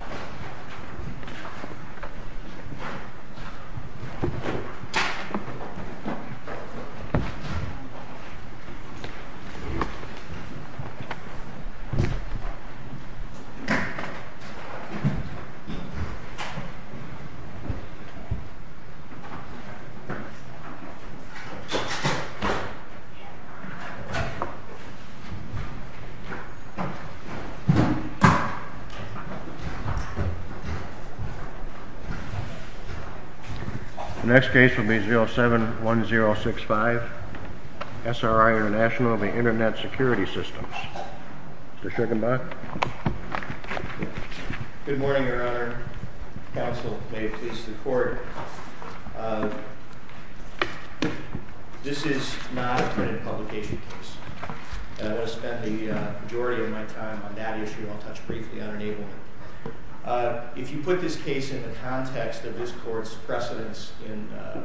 SRI BALAJI SRI BALAJI Next case will be 07-1065, SRI INTL v. Internet Security Systems. Mr. Shugenbach? MR. SHUGENBACH Good morning, Your Honor. Counsel, may it please the Court. This is not a printed publication case. I want to spend the majority of my time on that issue. I'll touch briefly on enablement. If you put this case in the context of this Court's precedence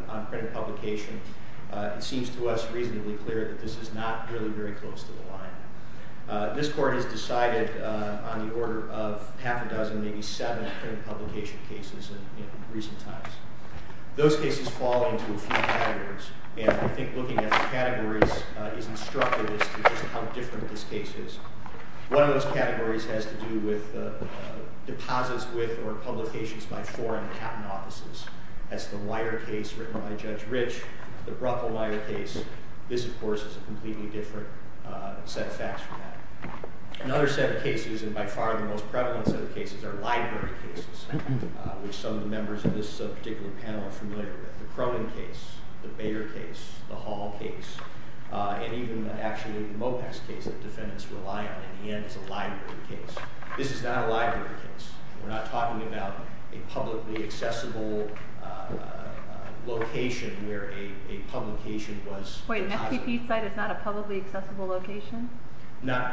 on printed publication, it seems to us reasonably clear that this is not really very close to the line. This Court has decided on the order of half a dozen, maybe seven printed publication cases in recent times. Those cases fall into a few categories, and I think looking at the categories is instructive as to just how different this case is. One of those categories has to do with deposits with or publications by foreign capital offices. That's the Weyer case written by Judge Rich, the Bruckle-Weyer case. This, of course, is a completely different set of facts from that. Another set of cases, and by far the most prevalent set of cases, are library cases, which some of the members of this particular panel are familiar with. The Cronin case, the Bader case, the Hall case, and even actually the Mopex case that defendants rely on in the end is a library case. This is not a library case. We're not talking about a publicly accessible location where a publication was deposited. Wait, an FTP site is not a publicly accessible location?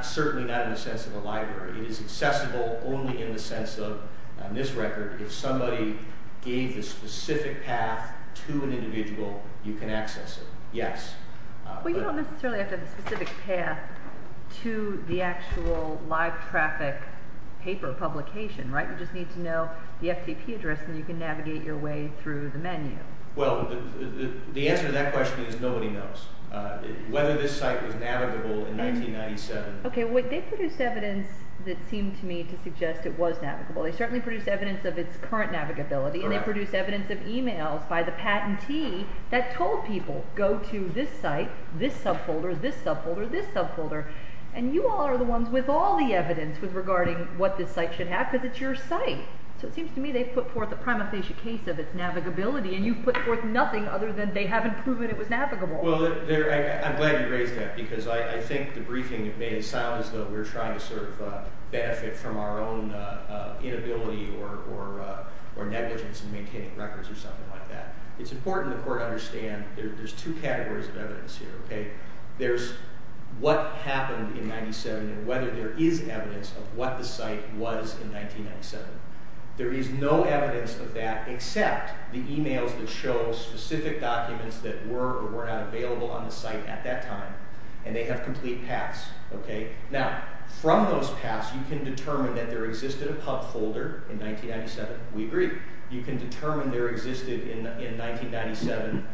Certainly not in the sense of a library. It is accessible only in the sense of, on this record, if somebody gave the specific path to an individual, you can access it. Yes. Well, you don't necessarily have to have a specific path to the actual live traffic paper publication, right? You just need to know the FTP address, and you can navigate your way through the menu. Well, the answer to that question is nobody knows. Whether this site was navigable in 1997... Okay, well, they produced evidence that seemed to me to suggest it was navigable. They certainly produced evidence of its current navigability, and they produced evidence of emails by the patentee that told people, go to this site, this subfolder, this subfolder, this subfolder, and you all are the ones with all the evidence regarding what this site should have because it's your site. So it seems to me they've put forth a prima facie case of its navigability, and you've put forth nothing other than they haven't proven it was navigable. Well, I'm glad you raised that because I think the briefing may sound as though we're trying to sort of benefit from our own inability or negligence in maintaining records or something like that. It's important the court understand there's two categories of evidence here, okay? There's what happened in 1997 and whether there is evidence of what the site was in 1997. There is no evidence of that except the emails that show specific documents that were or were not available on the site at that time, and they have complete paths, okay? Now, from those paths, you can determine that there existed a pub folder in 1997. We agree. You can determine there existed in 1997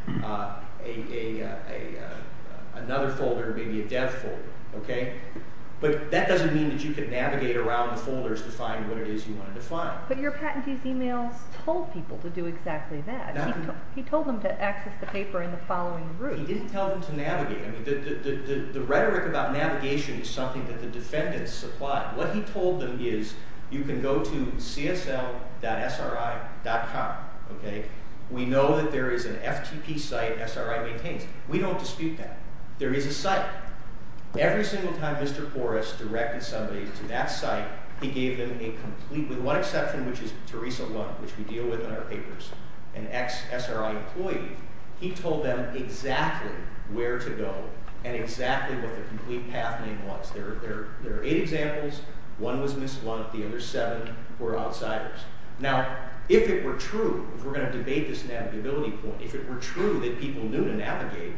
another folder, maybe a dev folder, okay? But that doesn't mean that you can navigate around the folders to find what it is you wanted to find. But your patentee's emails told people to do exactly that. No. He told them to access the paper in the following route. But he didn't tell them to navigate. I mean, the rhetoric about navigation is something that the defendants supplied. What he told them is you can go to csl.sri.com, okay? We know that there is an FTP site SRI maintains. We don't dispute that. There is a site. Every single time Mr. Porras directed somebody to that site, he gave them a complete, with one exception, which is Teresa Wong, which we deal with in our papers, an ex-SRI employee. He told them exactly where to go and exactly what the complete path name was. There are eight examples. One was Ms. Blunt. The other seven were outsiders. Now, if it were true, if we're going to debate this navigability point, if it were true that people knew to navigate,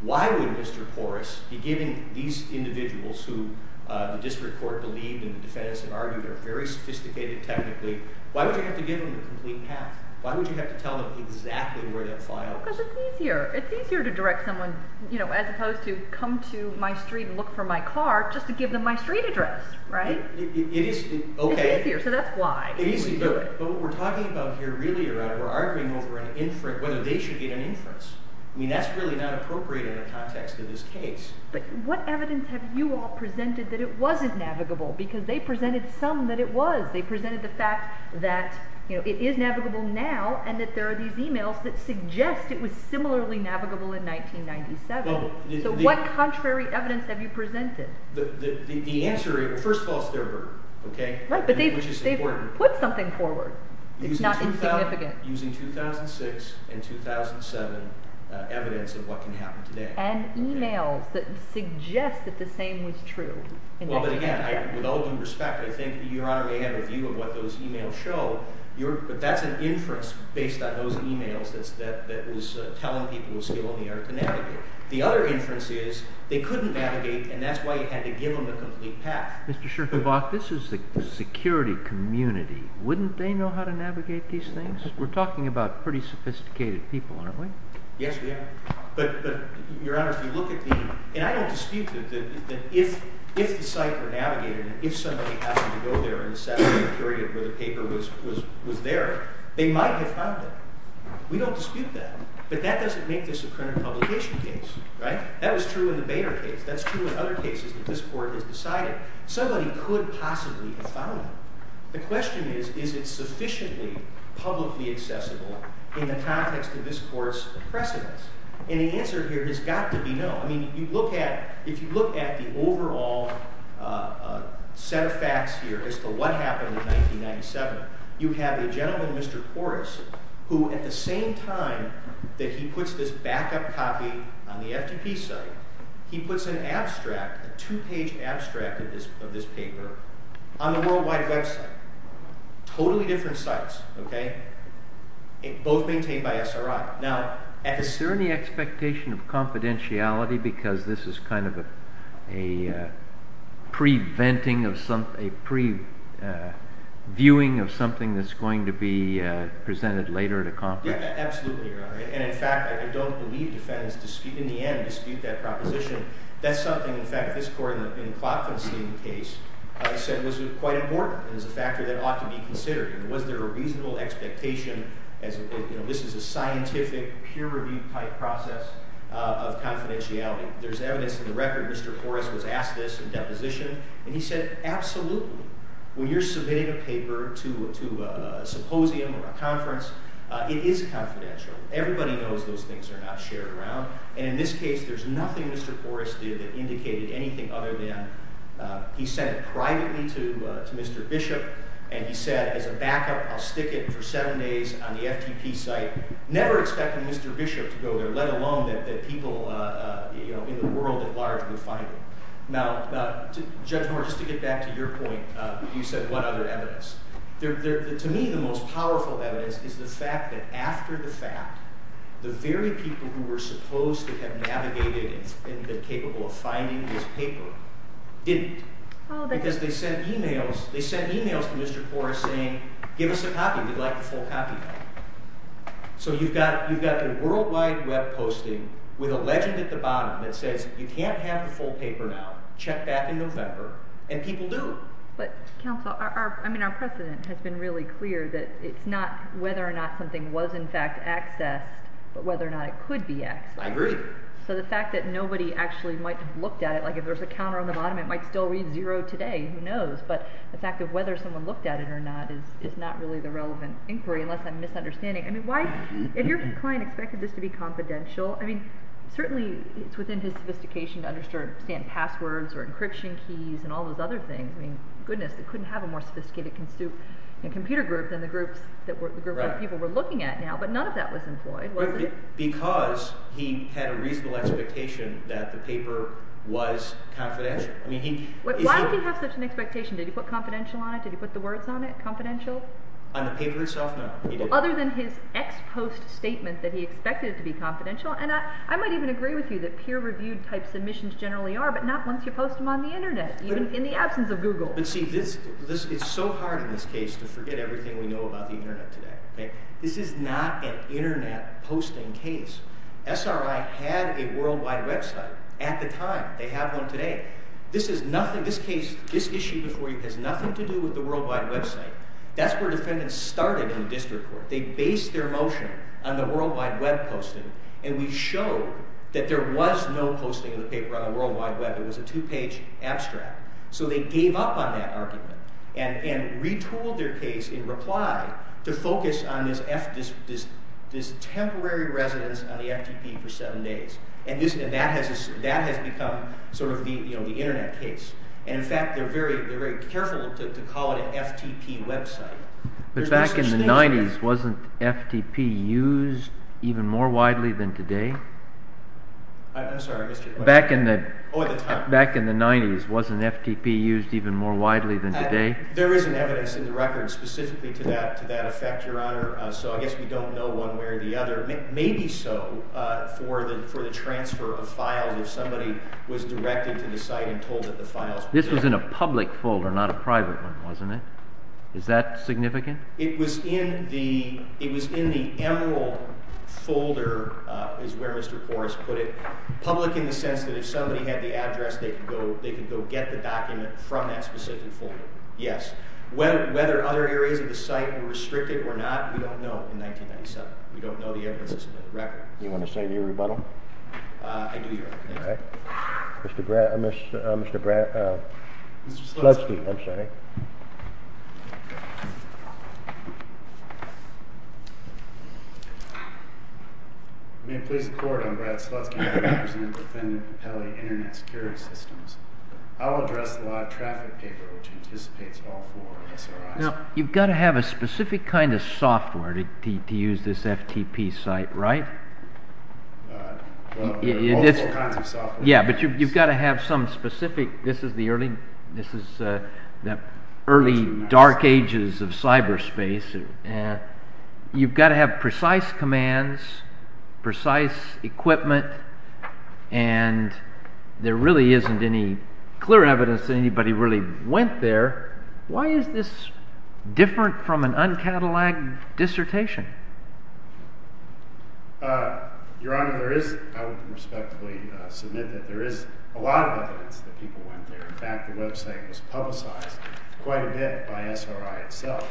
why would Mr. Porras be giving these individuals who the district court believed and the defendants have argued are very sophisticated technically, why would you have to give them the complete path? Why would you have to tell them exactly where that file is? Because it's easier. It's easier to direct someone, you know, as opposed to come to my street and look for my car just to give them my street address, right? It is, okay. It's easier, so that's why. It is easier. But what we're talking about here really around we're arguing over an inference, whether they should get an inference. I mean, that's really not appropriate in the context of this case. But what evidence have you all presented that it wasn't navigable? Because they presented some that it was. They presented the fact that, you know, it is navigable now and that there are these e-mails that suggest it was similarly navigable in 1997. So what contrary evidence have you presented? The answer, first of all, it's their word, okay, which is important. Right, but they've put something forward. It's not insignificant. Using 2006 and 2007 evidence of what can happen today. And e-mails that suggest that the same was true. Well, but again, with all due respect, I think Your Honor may have a view of what those e-mails show. But that's an inference based on those e-mails that was telling people it was still in the air to navigate. The other inference is they couldn't navigate, and that's why you had to give them the complete path. Mr. Schertenbach, this is the security community. Wouldn't they know how to navigate these things? We're talking about pretty sophisticated people, aren't we? Yes, we are. But, Your Honor, if you look at the – and I don't dispute that if the site were navigated, if somebody happened to go there in the Saturday period where the paper was there, they might have found it. We don't dispute that. But that doesn't make this a current publication case, right? That was true in the Boehner case. That's true in other cases that this Court has decided. Somebody could possibly have found it. The question is, is it sufficiently publicly accessible in the context of this Court's precedence? And the answer here has got to be no. I mean, you look at – if you look at the overall set of facts here as to what happened in 1997, you have a gentleman, Mr. Porras, who at the same time that he puts this backup copy on the FTP site, he puts an abstract, a two-page abstract of this paper on the worldwide website. Totally different sites, okay? Both maintained by SRI. Now, at this – Is there any expectation of confidentiality because this is kind of a pre-venting of some – a pre-viewing of something that's going to be presented later at a conference? Yes, absolutely, Your Honor. And, in fact, I don't believe defendants dispute – in the end, dispute that proposition. That's something, in fact, this Court in Klopfenstein's case said was quite important and is a factor that ought to be considered. Was there a reasonable expectation as – you know, this is a scientific, peer-reviewed process of confidentiality. There's evidence in the record Mr. Porras was asked this in deposition, and he said, Absolutely. When you're submitting a paper to a symposium or a conference, it is confidential. Everybody knows those things are not shared around. And in this case, there's nothing Mr. Porras did that indicated anything other than he sent it privately to Mr. Bishop, and he said, as a backup, I'll stick it for seven days on the FTP site, never expecting Mr. Bishop to go there, let alone that people, you know, in the world at large would find it. Now, Judge Moore, just to get back to your point, you said, What other evidence? To me, the most powerful evidence is the fact that, after the fact, the very people who were supposed to have navigated and been capable of finding this paper didn't. Because they sent emails to Mr. Porras saying, Give us a copy. We'd like the full copy. So you've got a worldwide web posting with a legend at the bottom that says, You can't have the full paper now. Check back in November. And people do. But, counsel, I mean, our precedent has been really clear that it's not whether or not something was in fact accessed, but whether or not it could be accessed. I agree. So the fact that nobody actually might have looked at it, like if there's a counter on the bottom, it might still read zero today. Who knows? But the fact that whether someone looked at it or not is not really the relevant inquiry, unless I'm misunderstanding. I mean, if your client expected this to be confidential, I mean, certainly it's within his sophistication to understand passwords or encryption keys and all those other things. I mean, goodness, they couldn't have a more sophisticated computer group than the groups that people were looking at now. But none of that was employed, was it? Because he had a reasonable expectation that the paper was confidential. Why did he have such an expectation? Did he put confidential on it? Did he put the words on it? Confidential? On the paper itself, no. Other than his ex-post statement that he expected it to be confidential. And I might even agree with you that peer-reviewed type submissions generally are, but not once you post them on the Internet, even in the absence of Google. But see, it's so hard in this case to forget everything we know about the Internet today. This is not an Internet posting case. SRI had a worldwide website at the time. They have one today. This issue before you has nothing to do with the worldwide website. That's where defendants started in district court. They based their motion on the worldwide web posting, and we showed that there was no posting of the paper on the worldwide web. It was a two-page abstract. So they gave up on that argument and retooled their case in reply to focus on this temporary residence on the FTP for seven days. And that has become sort of the Internet case. And, in fact, they're very careful to call it an FTP website. But back in the 90s, wasn't FTP used even more widely than today? I'm sorry, Mr. – Back in the 90s, wasn't FTP used even more widely than today? There isn't evidence in the record specifically to that effect, Your Honor, so I guess we don't know one way or the other. Maybe so for the transfer of files if somebody was directed to the site and told that the files were there. This was in a public folder, not a private one, wasn't it? Is that significant? It was in the Emerald folder, is where Mr. Korris put it, public in the sense that if somebody had the address, they could go get the document from that specific folder. Yes. Whether other areas of the site were restricted or not, we don't know in 1997. We don't know the evidence that's in the record. Do you want to say your rebuttal? I do, Your Honor. Mr. Brad – Mr. Slutsky. Slutsky, I'm sorry. May it please the Court, I'm Brad Slutsky. I'm the representative for Pele Internet Security Systems. I'll address the live traffic paper, which anticipates all four SRIs. You've got to have a specific kind of software to use this FTP site, right? Multiple kinds of software. Yes, but you've got to have some specific – this is the early dark ages of cyberspace. You've got to have precise commands, precise equipment, and there really isn't any clear evidence that anybody really went there. Why is this different from an uncataloged dissertation? Your Honor, I would respectfully submit that there is a lot of evidence that people went there. In fact, the website was publicized quite a bit by SRI itself.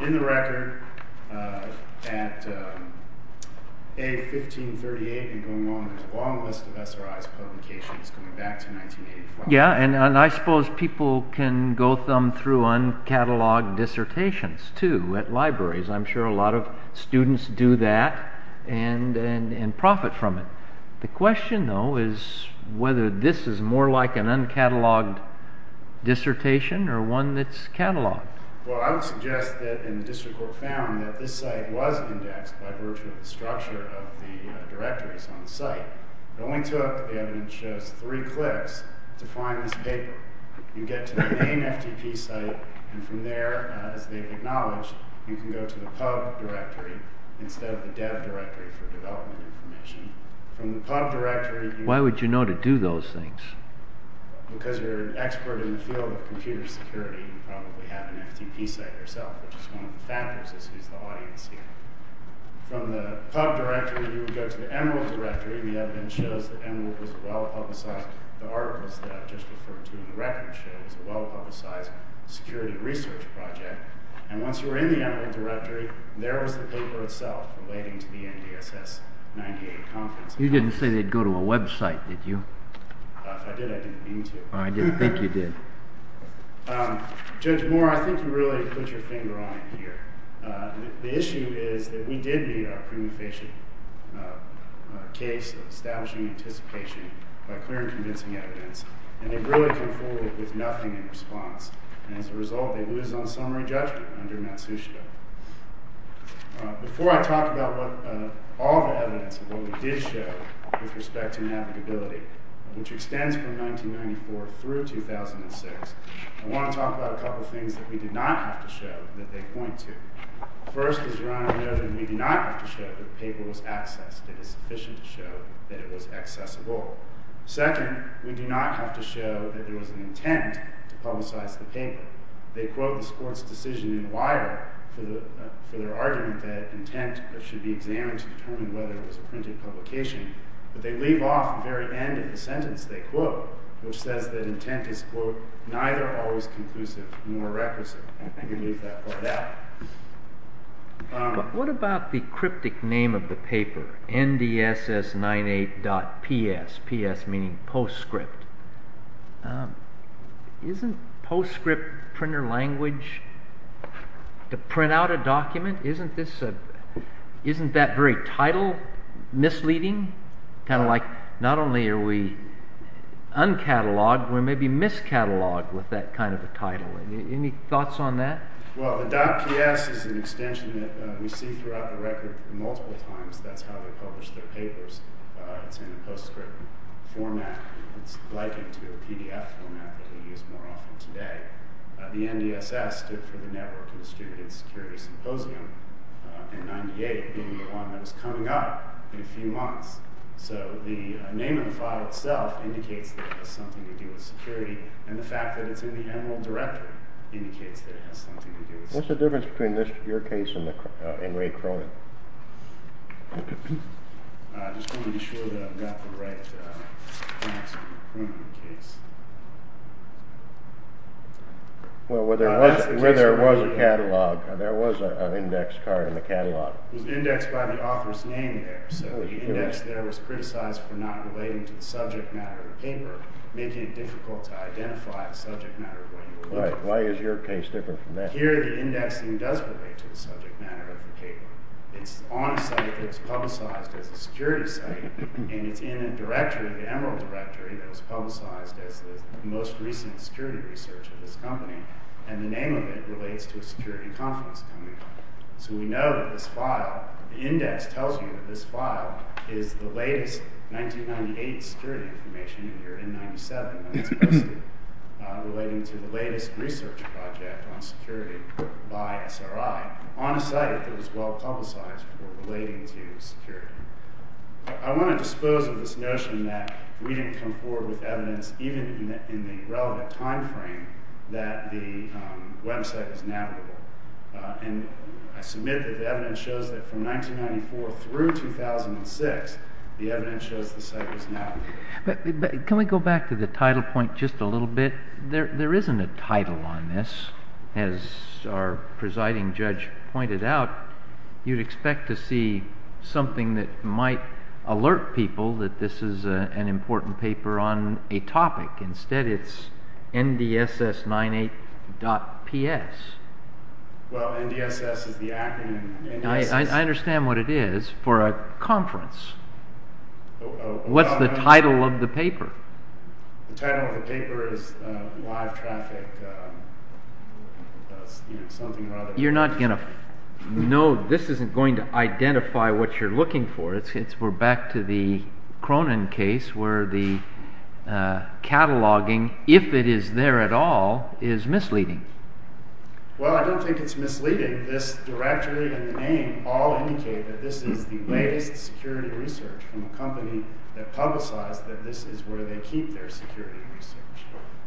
In the record, at A1538 and going on, there's a long list of SRIs publications going back to 1985. Yeah, and I suppose people can go thumb through uncataloged dissertations, too, at libraries. I'm sure a lot of students do that and profit from it. The question, though, is whether this is more like an uncataloged dissertation or one that's cataloged. Well, I would suggest that in the district court found that this site was indexed by virtue of the structure of the directories on the site. It only took, the evidence shows, three clicks to find this paper. You get to the main FTP site, and from there, as they've acknowledged, you can go to the pub directory instead of the dev directory for development information. Why would you know to do those things? Because you're an expert in the field of computer security, you probably have an FTP site yourself, which is one of the factors as to who's the audience here. From the pub directory, you would go to the Emerald directory. The evidence shows that Emerald was a well-publicized, the articles that I've just referred to in the record show, it was a well-publicized security research project. And once you were in the Emerald directory, there was the paper itself relating to the NDSS 98 conference. You didn't say they'd go to a website, did you? If I did, I didn't mean to. I didn't think you did. Judge Moore, I think you really put your finger on it here. The issue is that we did meet our prima facie case of establishing anticipation by clear and convincing evidence, and they've really come forward with nothing in response. And as a result, they lose on summary judgment under Matsushita. Before I talk about all the evidence of what we did show with respect to navigability, which extends from 1994 through 2006, I want to talk about a couple of things that we did not have to show that they point to. First, as Rana noted, we do not have to show that the paper was accessed. It is sufficient to show that it was accessible. Second, we do not have to show that there was an intent to publicize the paper. They quote the sports decision in Wire for their argument that intent should be examined to determine whether it was a printed publication. But they leave off the very end of the sentence they quote, which says that intent is, quote, neither always conclusive nor requisite. I think we leave that part out. But what about the cryptic name of the paper, NDSS98.PS, PS meaning PostScript? Isn't PostScript printer language to print out a document? Isn't that very title misleading? Not only are we uncatalogued, we're maybe miscatalogued with that kind of a title. Any thoughts on that? Well, the .PS is an extension that we see throughout the record multiple times. That's how they publish their papers. It's in a PostScript format. It's likened to a PDF format that we use more often today. The NDSS stood for the Network of Distributed Security Symposium. And 98 being the one that is coming up in a few months. So the name of the file itself indicates that it has something to do with security. And the fact that it's in the Emerald Directory indicates that it has something to do with security. What's the difference between your case and Ray Cronin? I just want to be sure that I've got the right facts in the Cronin case. Well, where there was a catalog, there was an index card in the catalog. It was indexed by the author's name there. So the index there was criticized for not relating to the subject matter of the paper, making it difficult to identify the subject matter of what you were looking for. Why is your case different from that? Here the indexing does relate to the subject matter of the paper. It's on a site that's publicized as a security site. And it's in a directory, the Emerald Directory, that was publicized as the most recent security research of this company. And the name of it relates to a security conference coming up. So we know that this file, the index tells you that this file is the latest 1998 security information here in 97 that's posted relating to the latest research project on security by SRI on a site that was well publicized for relating to security. I want to dispose of this notion that we didn't come forward with evidence, even in the relevant time frame, that the website is navigable. And I submit that the evidence shows that from 1994 through 2006, the evidence shows the site was navigable. But can we go back to the title point just a little bit? There isn't a title on this. As our presiding judge pointed out, you'd expect to see something that might alert people that this is an important paper on a topic. Instead, it's NDSS98.PS. Well, NDSS is the acronym. I understand what it is for a conference. What's the title of the paper? The title of the paper is live traffic, something or other. You're not going to know, this isn't going to identify what you're looking for. We're back to the Cronin case where the cataloging, if it is there at all, is misleading. Well, I don't think it's misleading. This directory and the name all indicate that this is the latest security research from a company that publicized that this is where they keep their security research.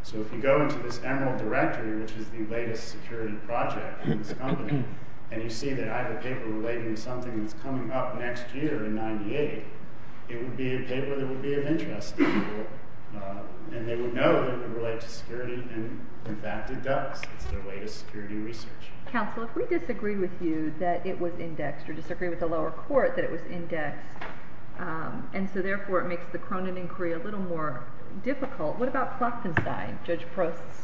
So if you go into this Emerald directory, which is the latest security project in this company, and you see that I have a paper relating to something that's coming up next year in 98, it would be a paper that would be of interest to people. And they would know that it would relate to security, and in fact it does. It's their latest security research. Counsel, if we disagree with you that it was indexed, or disagree with the lower court that it was indexed, and so therefore it makes the Cronin inquiry a little more difficult, what about Klopfenstein, Judge Prost's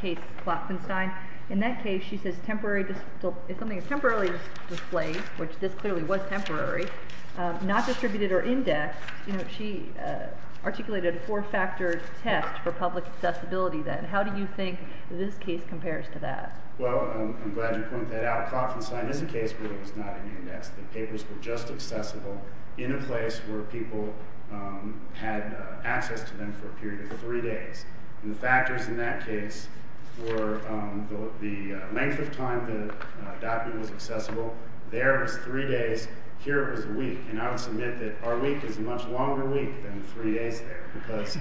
case, Klopfenstein? In that case she says if something is temporarily displayed, which this clearly was temporary, not distributed or indexed, she articulated a four-factor test for public accessibility then. How do you think this case compares to that? Well, I'm glad you pointed that out. Klopfenstein is a case where it was not indexed. The papers were just accessible in a place where people had access to them for a period of three days. And the factors in that case were the length of time the document was accessible. There it was three days. Here it was a week. And I would submit that our week is a much longer week than three days there because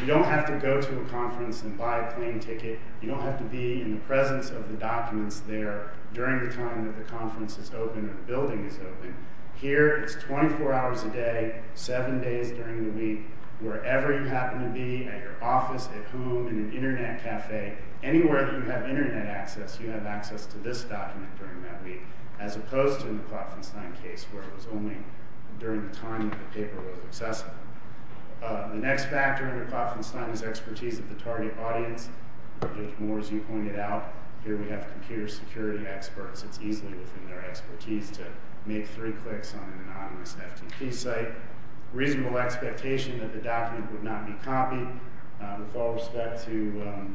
you don't have to go to a conference and buy a plane ticket. You don't have to be in the presence of the documents there during the time that the conference is open or the building is open. Here it's 24 hours a day, seven days during the week, wherever you happen to be, at your office, at home, in an internet cafe, anywhere that you have internet access you have access to this document during that week, as opposed to in the Klopfenstein case where it was only during the time that the paper was accessible. The next factor in the Klopfenstein is expertise of the target audience. More as you pointed out, here we have computer security experts. It's easy within their expertise to make three clicks on an anonymous FTP site. Reasonable expectation that the document would not be copied. With all respect to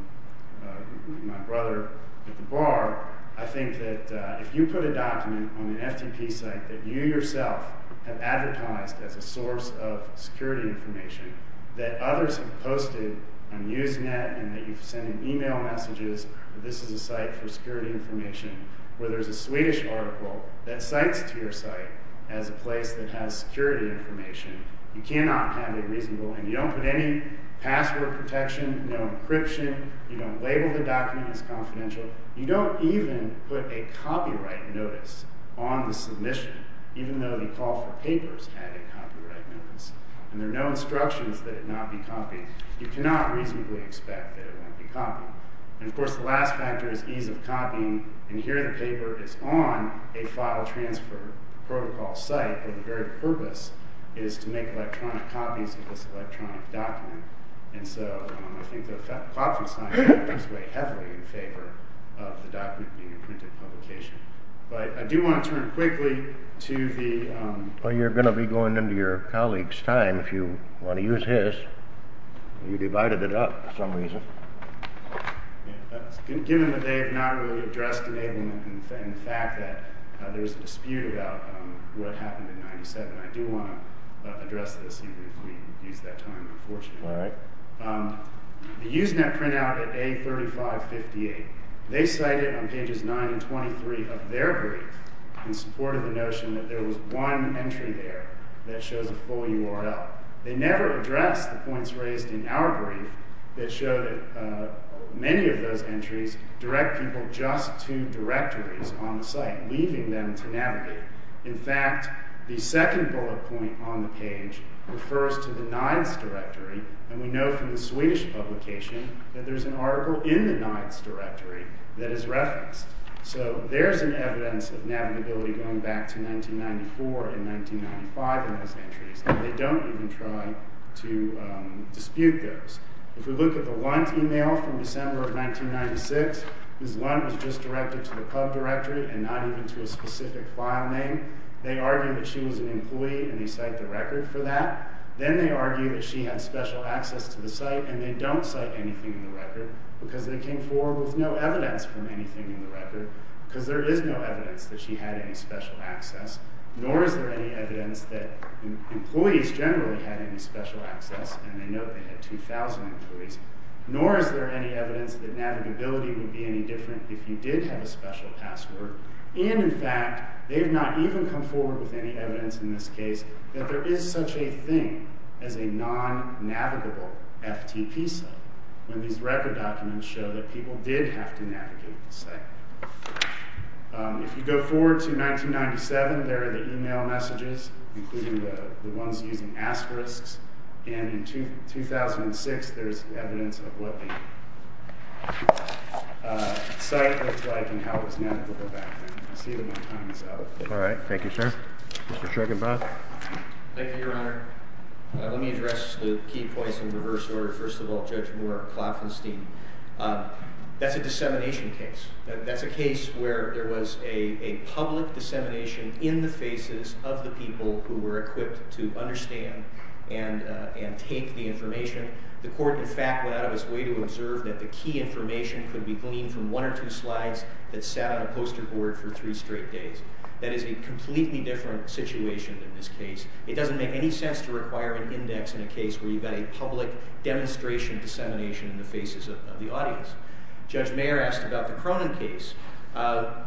my brother at the bar, I think that if you put a document on an FTP site that you yourself have advertised as a source of security information that others have posted on Usenet and that you've sent email messages that this is a site for security information, where there's a Swedish article that cites to your site as a place that has security information, you cannot have it reasonable. And you don't put any password protection, no encryption. You don't label the document as confidential. You don't even put a copyright notice on the submission, even though the call for papers had a copyright notice. And there are no instructions that it not be copied. You cannot reasonably expect that it won't be copied. And, of course, the last factor is ease of copying. And here the paper is on a file transfer protocol site, but the very purpose is to make electronic copies of this electronic document. And so I think the Klopfenstein papers weigh heavily in favor of the document being a printed publication. But I do want to turn quickly to the... Well, you're going to be going into your colleague's time if you want to use his. You divided it up for some reason. Given that they have not really addressed enablement and the fact that there's a dispute about what happened in 97, I do want to address this even if we use that time, unfortunately. All right. The Usenet printout at A3558, they cite it on pages 9 and 23 of their brief in support of the notion that there was one entry there that shows a full URL. They never address the points raised in our brief that show that many of those entries direct people just to directories on the site, leaving them to navigate. In fact, the second bullet point on the page refers to the NIDES directory, and we know from the Swedish publication that there's an article in the NIDES directory that is referenced. So there's an evidence of navigability going back to 1994 and 1995 in those entries, and they don't even try to dispute those. If we look at the Lunt email from December of 1996, because Lunt was just directed to the club directory and not even to a specific file name, they argue that she was an employee and they cite the record for that. Then they argue that she had special access to the site, and they don't cite anything in the record because they came forward with no evidence from anything in the record, because there is no evidence that she had any special access, nor is there any evidence that employees generally had any special access, and they note they had 2,000 employees, nor is there any evidence that navigability would be any different if you did have a special password. And, in fact, they have not even come forward with any evidence in this case that there is such a thing as a non-navigable FTP site when these record documents show that people did have to navigate the site. If you go forward to 1997, there are the email messages, including the ones using asterisks, and in 2006 there's evidence of what the site looked like and how it was navigable back then. I see that my time is up. All right. Thank you, sir. Mr. Shruginbroth? Thank you, Your Honor. Let me address the key points in reverse order. First of all, Judge Moore of Klopfenstein, that's a dissemination case. That's a case where there was a public dissemination in the faces of the people who were equipped to understand and take the information. The court, in fact, went out of its way to observe that the key information could be gleaned from one or two slides that sat on a poster board for three straight days. That is a completely different situation than this case. It doesn't make any sense to require an index in a case where you've got a public demonstration dissemination in the faces of the audience. Judge Mayer asked about the Cronin case.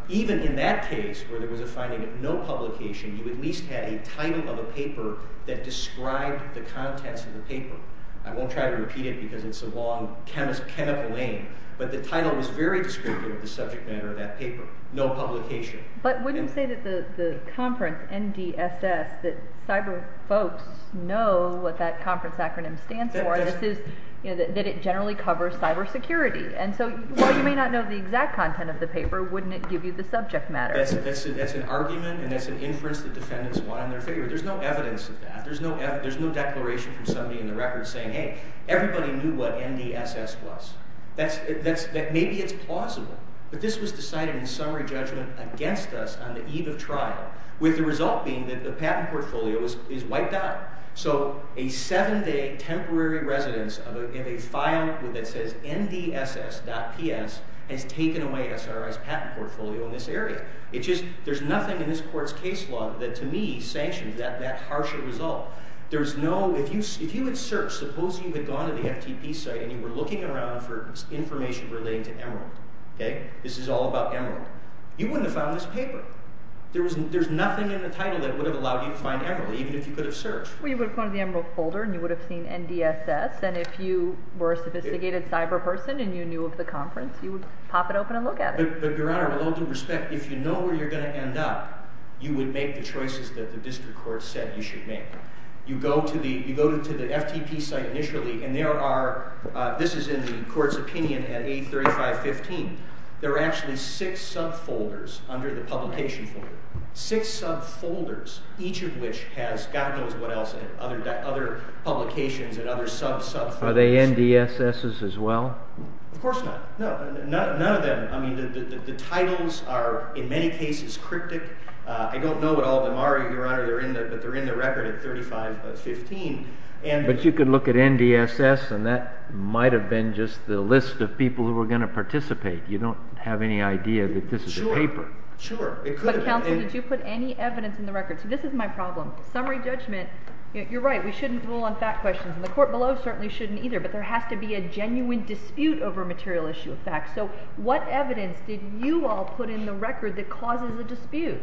Even in that case, where there was a finding of no publication, you at least had a title of a paper that described the contents of the paper. I won't try to repeat it because it's a long, chemical name, but the title was very descriptive of the subject matter of that paper. No publication. But wouldn't you say that the conference, NDSS, that cyber folks know what that conference acronym stands for, that it generally covers cyber security? And so while you may not know the exact content of the paper, wouldn't it give you the subject matter? That's an argument and that's an inference that defendants want on their favor. There's no evidence of that. There's no declaration from somebody in the record saying, hey, everybody knew what NDSS was. Maybe it's plausible, but this was decided in summary judgment against us on the eve of trial, with the result being that the patent portfolio is wiped out. So a seven-day temporary residence of a file that says NDSS.ps has taken away SRI's patent portfolio in this area. There's nothing in this court's case law that, to me, sanctions that harsher result. If you had searched, suppose you had gone to the FTP site and you were looking around for information relating to Emerald. This is all about Emerald. You wouldn't have found this paper. There's nothing in the title that would have allowed you to find Emerald, even if you could have searched. Well, you would have gone to the Emerald folder and you would have seen NDSS, and if you were a sophisticated cyber person and you knew of the conference, you would pop it open and look at it. But, Your Honor, with all due respect, if you know where you're going to end up, you would make the choices that the district court said you should make. You go to the FTP site initially, and this is in the court's opinion at A3515. There are actually six subfolders under the publication folder, six subfolders, each of which has, God knows what else, other publications and other subfolders. Are they NDSSs as well? Of course not. None of them. The titles are, in many cases, cryptic. I don't know what all of them are, Your Honor, but they're in the record at 3515. But you could look at NDSS, and that might have been just the list of people who were going to participate. You don't have any idea that this is a paper. Sure, sure. But, counsel, did you put any evidence in the record? See, this is my problem. Summary judgment, you're right, we shouldn't rule on fact questions, and the court below certainly shouldn't either, but there has to be a genuine dispute over a material issue of fact. So what evidence did you all put in the record that causes a dispute?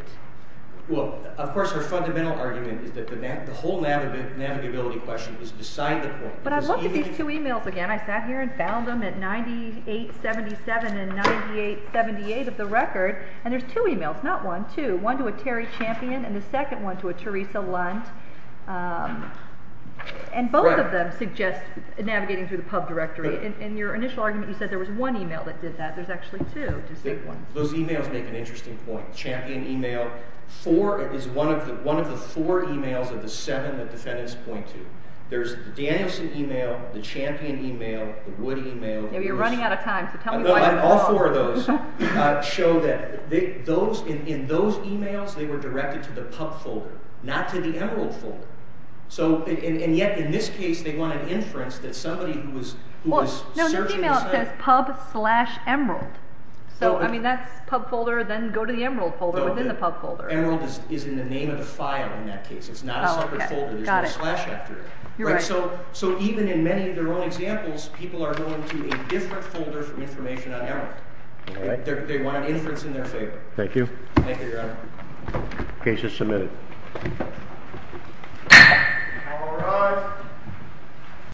Well, of course, our fundamental argument is that the whole navigability question is beside the point. But I looked at these two e-mails again. I sat here and found them at 9877 and 9878 of the record, and there's two e-mails, not one, two, one to a Terry Champion and the second one to a Teresa Lunt, and both of them suggest navigating through the pub directory. In your initial argument, you said there was one e-mail that did that. There's actually two distinct ones. Those e-mails make an interesting point. Four is one of the four e-mails of the seven that defendants point to. There's the Danielson e-mail, the Champion e-mail, the Wood e-mail. You're running out of time. All four of those show that in those e-mails, they were directed to the pub folder, not to the Emerald folder. And yet in this case, they want an inference that somebody who was searching the site. No, the e-mail says pub slash Emerald. So, I mean, that's pub folder. Then go to the Emerald folder within the pub folder. Emerald is in the name of the file in that case. It's not a separate folder. There's no slash after it. You're right. So even in many of their own examples, people are going to a different folder from information on Emerald. They want an inference in their favor. Thank you. Thank you, Your Honor. The case is submitted. The court will rise.